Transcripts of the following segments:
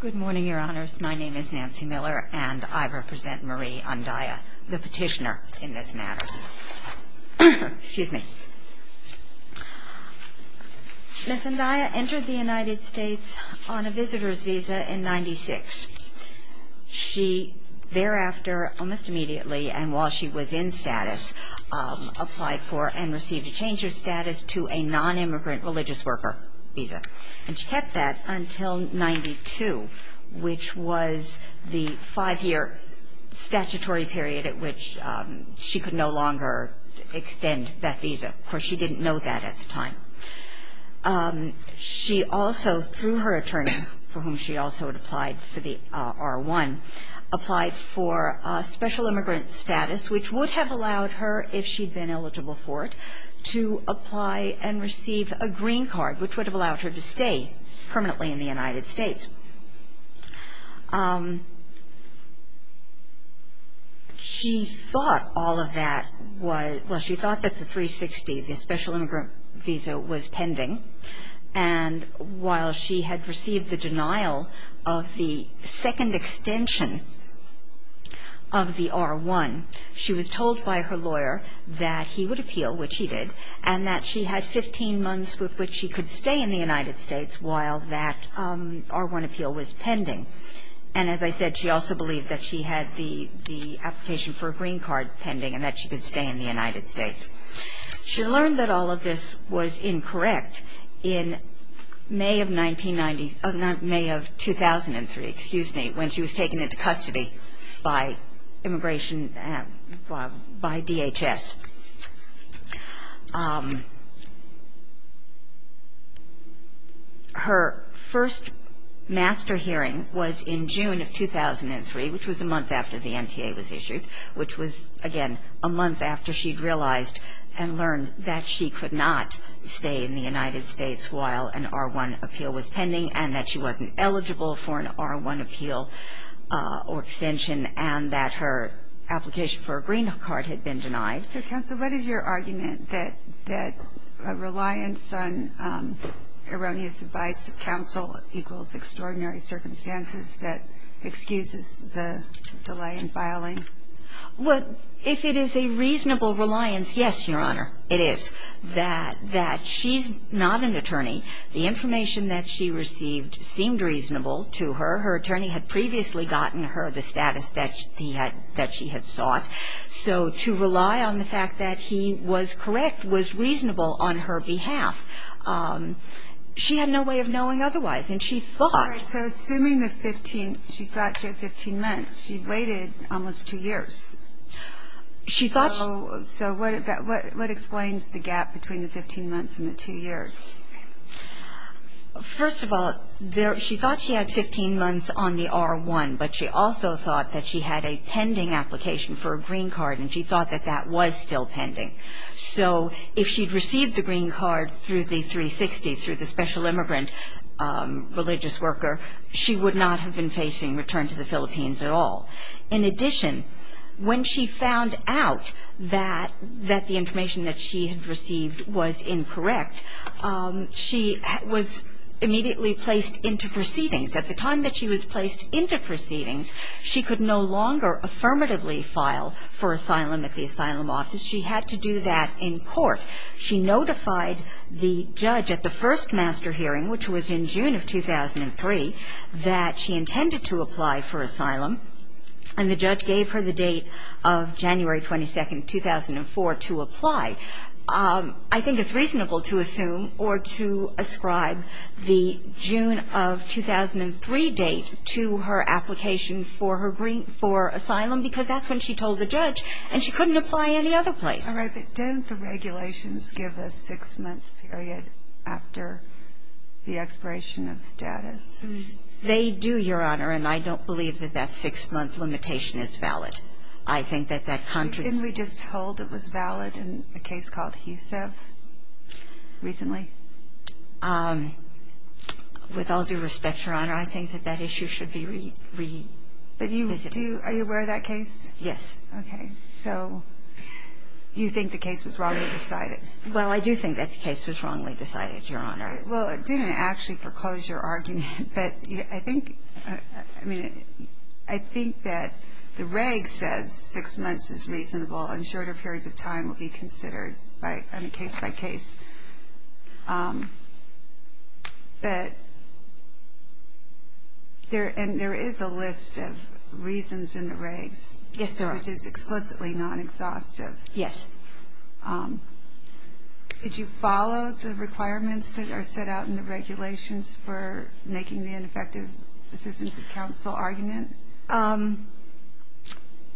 Good morning, Your Honors. My name is Nancy Miller, and I represent Marie Andaya, the petitioner in this matter. Excuse me. Ms. Andaya entered the United States on a visitor's visa in 1996. She thereafter, almost immediately, and while she was in status, applied for and received a change of status to a non-immigrant religious worker visa. And she kept that until 1992, which was the five-year statutory period at which she could no longer extend that visa, for she didn't know that at the time. She also, through her attorney, for whom she also had applied for the R1, applied for special immigrant status, which would have allowed her, if she'd been eligible for it, to apply and receive a green card, which would have allowed her to stay permanently in the United States. She thought all of that was, well, she thought that the 360, the special immigrant visa, was pending, and while she had received the denial of the second extension of the R1, she was told by her lawyer that he would appeal, which he did, and that she had 15 months with which she could stay in the United States while that R1 appeal was pending. And as I said, she also believed that she had the application for a green card pending and that she could stay in the United States. She learned that all of this was incorrect in May of 1990 – May of 2003, excuse me, when she was taken into custody by immigration, by DHS. Her first master hearing was in June of 2003, which was a month after the NTA was issued, which was, again, a month after she'd realized and learned that she could not stay in the United States while an R1 appeal was pending and that she wasn't eligible for an R1 appeal or extension and that her application for a green card had been denied. So, Counsel, what is your argument that a reliance on erroneous advice of counsel equals extraordinary circumstances that excuses the delay in filing? Well, if it is a reasonable reliance, yes, Your Honor, it is, that she's not an attorney. The information that she received seemed reasonable to her. Her attorney had previously gotten her the status that she had sought. So to rely on the fact that he was correct was reasonable on her behalf. She had no way of knowing otherwise. And she thought – All right. So assuming she thought she had 15 months, she waited almost two years. She thought – So what explains the gap between the 15 months and the two years? First of all, she thought she had 15 months on the R1, but she also thought that she had a pending application for a green card, and she thought that that was still pending. So if she'd received the green card through the 360, through the special immigrant religious worker, she would not have been facing return to the Philippines at all. In addition, when she found out that the information that she had received was incorrect, she was immediately placed into proceedings. At the time that she was placed into proceedings, she could no longer affirmatively file for asylum at the asylum office. She had to do that in court. She notified the judge at the first master hearing, which was in June of 2003, that she intended to apply for asylum, and the judge gave her the date of January 22, 2004, to apply. I think it's reasonable to assume or to ascribe the June of 2003 date to her application for her green – for asylum, because that's when she told the judge, and she couldn't apply any other place. All right, but don't the regulations give a six-month period after the expiration of status? They do, Your Honor, and I don't believe that that six-month limitation is valid. I think that that – Didn't we just hold it was valid in a case called Husev recently? With all due respect, Your Honor, I think that that issue should be revisited. But you do – are you aware of that case? Yes. Okay. So you think the case was wrongly decided? Well, I do think that the case was wrongly decided, Your Honor. Well, it didn't actually foreclose your argument, but I think – I mean, I think that the reg says six months is reasonable and shorter periods of time will be considered by – I mean, case by case. But there – and there is a list of reasons in the regs. Yes, there are. Which is explicitly non-exhaustive. Yes. Did you follow the requirements that are set out in the regulations for making the ineffective assistance of counsel argument?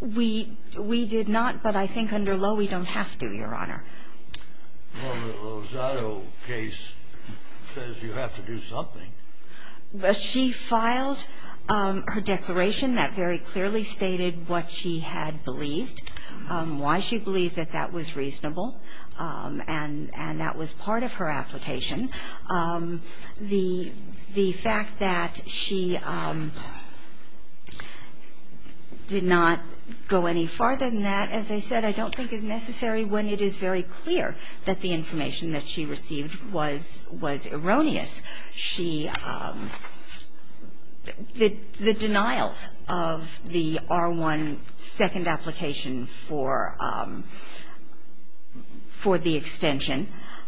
We did not, but I think under Lowe we don't have to, Your Honor. Well, the Lozado case says you have to do something. She filed her declaration that very clearly stated what she had believed, why she believed that that was reasonable, and that was part of her application. The fact that she did not go any farther than that, as I said, I don't think is necessary when it is very clear that the information that she received was erroneous. She – the denials of the R1 second application for the extension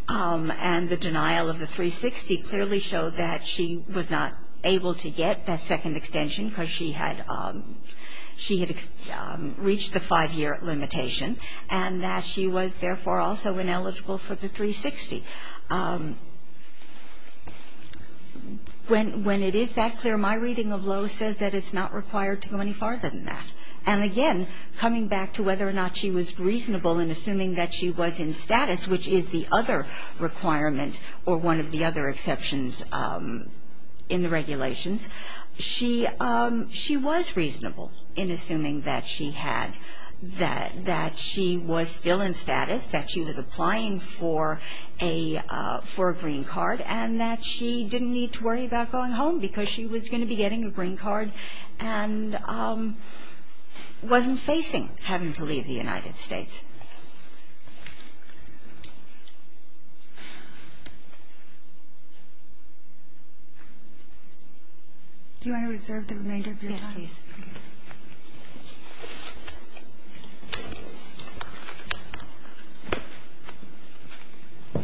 and the denial of the 360 clearly showed that she was not able to get that second extension because she had – she had reached the five-year limitation and that she was therefore also ineligible for the 360. When it is that clear, my reading of Lowe says that it's not required to go any farther than that. And again, coming back to whether or not she was reasonable in assuming that she was in status, which is the other requirement or one of the other exceptions in the regulations, she was reasonable in assuming that she had – that she was still in a – for a green card and that she didn't need to worry about going home because she was going to be getting a green card and wasn't facing having to leave the United States. Do you want to reserve the remainder of your time? Yes, please. Thank you.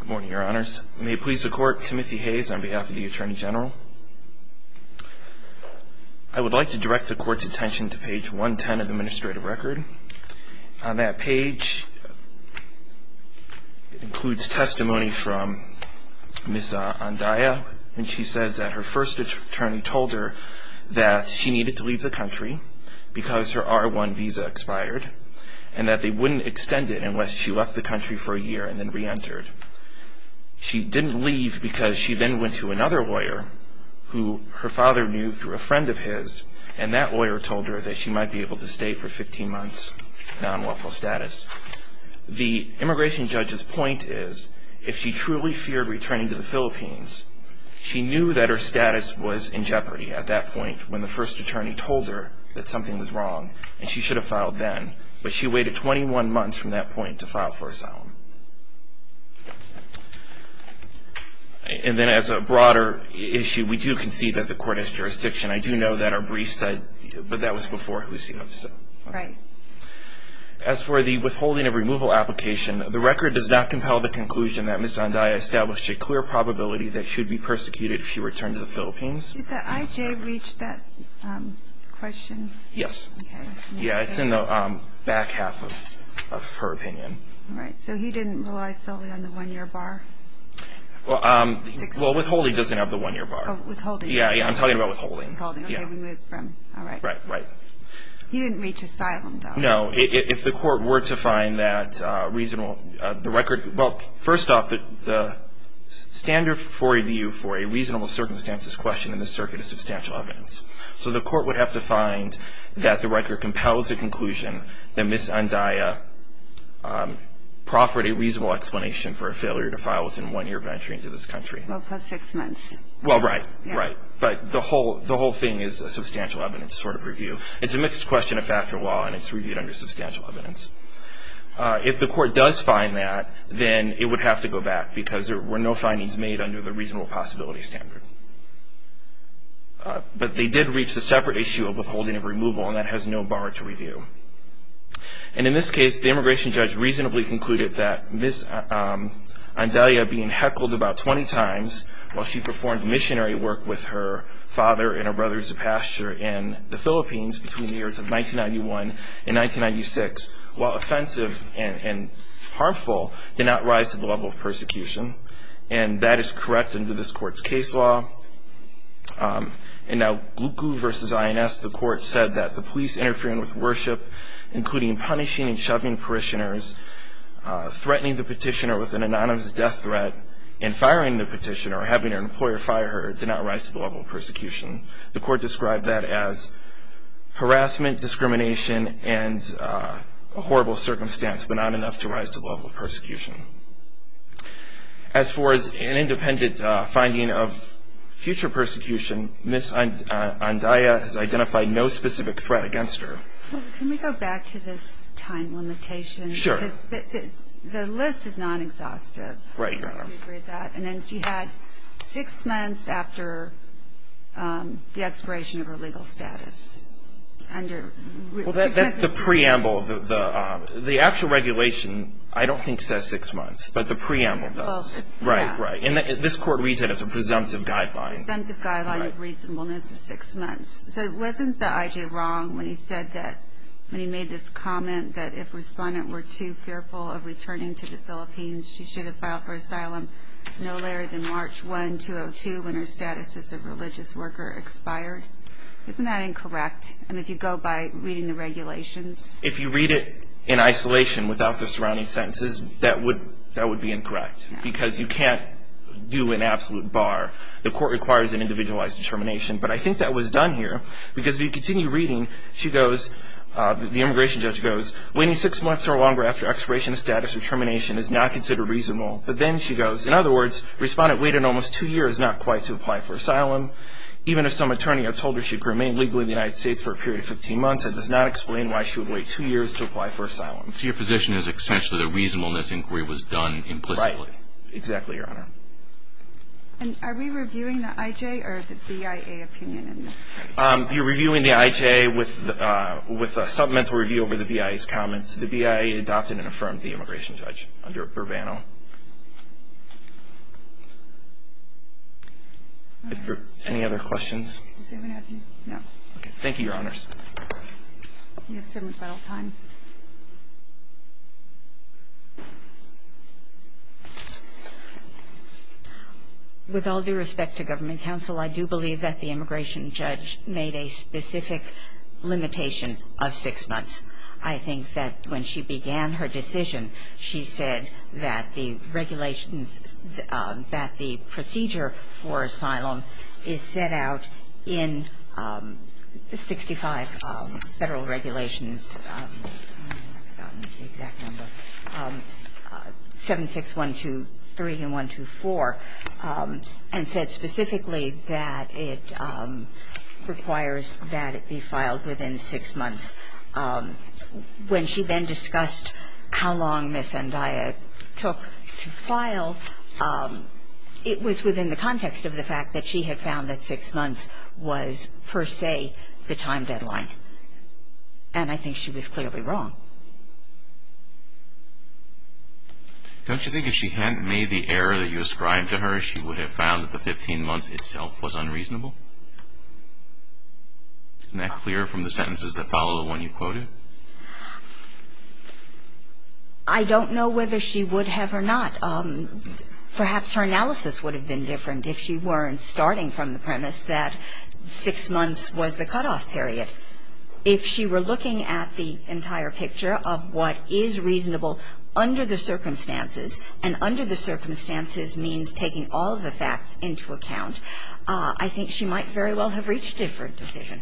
Good morning, Your Honors. May it please the Court, Timothy Hayes on behalf of the Attorney General. I would like to direct the Court's attention to page 110 of the administrative record. On that page, it includes testimony from Ms. Andaya, and she says that her first attorney told her that she needed to leave the country because her R1 visa expired and that they wouldn't extend it unless she left the country for a year and then reentered. She didn't leave because she then went to another lawyer who her father knew through a friend of his, and that lawyer told her that she might be able to stay for 15 months, non-lawful status. The immigration judge's point is if she truly feared returning to the Philippines, she knew that her status was in jeopardy at that point when the first attorney told her that something was wrong and she should have filed then, but she waited 21 months from that point to file for asylum. And then as a broader issue, we do concede that the Court has jurisdiction. I do know that our brief said, but that was before HUSIF. Right. As for the withholding of removal application, the record does not compel the conclusion that Ms. Andaya established a clear probability that she would be persecuted if she returned to the Philippines. Did the IJ reach that question? Yes. Okay. Yeah, it's in the back half of her opinion. All right. So he didn't rely solely on the one-year bar? Well, withholding doesn't have the one-year bar. Oh, withholding. Yeah, I'm talking about withholding. Withholding. Okay, we moved from. All right. Right, right. He didn't reach asylum, though. No. If the Court were to find that reasonable, the record, well, first off, the standard for review for a reasonable circumstances question in this circuit is substantial evidence. So the Court would have to find that the record compels the conclusion that Ms. Andaya proffered a reasonable explanation for a failure to file within one-year of entering into this country. Well, plus six months. Well, right. Right. But the whole thing is a substantial evidence sort of review. It's a mixed question of factor law, and it's reviewed under substantial evidence. If the Court does find that, then it would have to go back because there were no findings made under the reasonable possibility standard. But they did reach the separate issue of withholding and removal, and that has no bar to review. And in this case, the immigration judge reasonably concluded that Ms. Andaya being heckled about 20 times while she performed missionary work with her father and her brothers of pasture in the Philippines between the years of 1991 and 1996, while offensive and harmful, did not rise to the level of persecution. And that is correct under this Court's case law. And now Glucu v. INS, the Court said that the police interfering with worship, including punishing and shoving parishioners, threatening the petitioner with an anonymous death threat, and firing the petitioner, having an employer fire her, did not rise to the level of persecution. The Court described that as harassment, discrimination, and a horrible circumstance, but not enough to rise to the level of persecution. As far as an independent finding of future persecution, Ms. Andaya has identified no specific threat against her. Can we go back to this time limitation? Sure. The list is non-exhaustive. Right, Your Honor. And then she had six months after the expiration of her legal status. Well, that's the preamble. The actual regulation I don't think says six months, but the preamble does. Right, right. And this Court reads it as a presumptive guideline. Presumptive guideline of reasonableness is six months. So wasn't the I.J. wrong when he said that when he made this comment that if the respondent were too fearful of returning to the Philippines, she should have filed for asylum no later than March 1, 2002, when her status as a religious worker expired? Isn't that incorrect? I mean, if you go by reading the regulations. If you read it in isolation without the surrounding sentences, that would be incorrect because you can't do an absolute bar. The Court requires an individualized determination. But I think that was done here because if you continue reading, she goes, the immigration judge goes, Waiting six months or longer after expiration of status or termination is not considered reasonable. But then she goes, in other words, Respondent waited almost two years not quite to apply for asylum. Even if some attorney had told her she could remain legally in the United States for a period of 15 months, that does not explain why she would wait two years to apply for asylum. So your position is essentially that reasonableness inquiry was done implicitly. Right. Exactly, Your Honor. And are we reviewing the I.J. or the BIA opinion in this case? You're reviewing the I.J. with a supplemental review over the BIA's comments. The BIA adopted and affirmed the immigration judge under Urbano. Any other questions? Does anyone have any? No. Okay. Thank you, Your Honors. You have seven minutes left on time. With all due respect to government counsel, I do believe that the immigration judge made a specific limitation of six months. I think that when she began her decision, she said that the regulations that the procedure for asylum is set out in 65 Federal Regulations 76123 and 124 and said specifically that it requires that it be filed within six months. When she then discussed how long Ms. Andaya took to file, it was within the context of the fact that she had found that six months was per se the time deadline. And I think she was clearly wrong. Don't you think if she hadn't made the error that you ascribed to her, she would have found that the 15 months itself was unreasonable? Isn't that clear from the sentences that follow the one you quoted? I don't know whether she would have or not. Perhaps her analysis would have been different if she weren't starting from the premise that six months was the cutoff period. If she were looking at the entire picture of what is reasonable under the circumstances, and under the circumstances means taking all of the facts into account, I think she might very well have reached a different decision.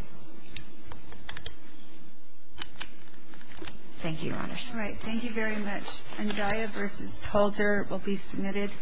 Thank you, Your Honors. All right. Thank you very much. Andaya v. Holder will be submitted.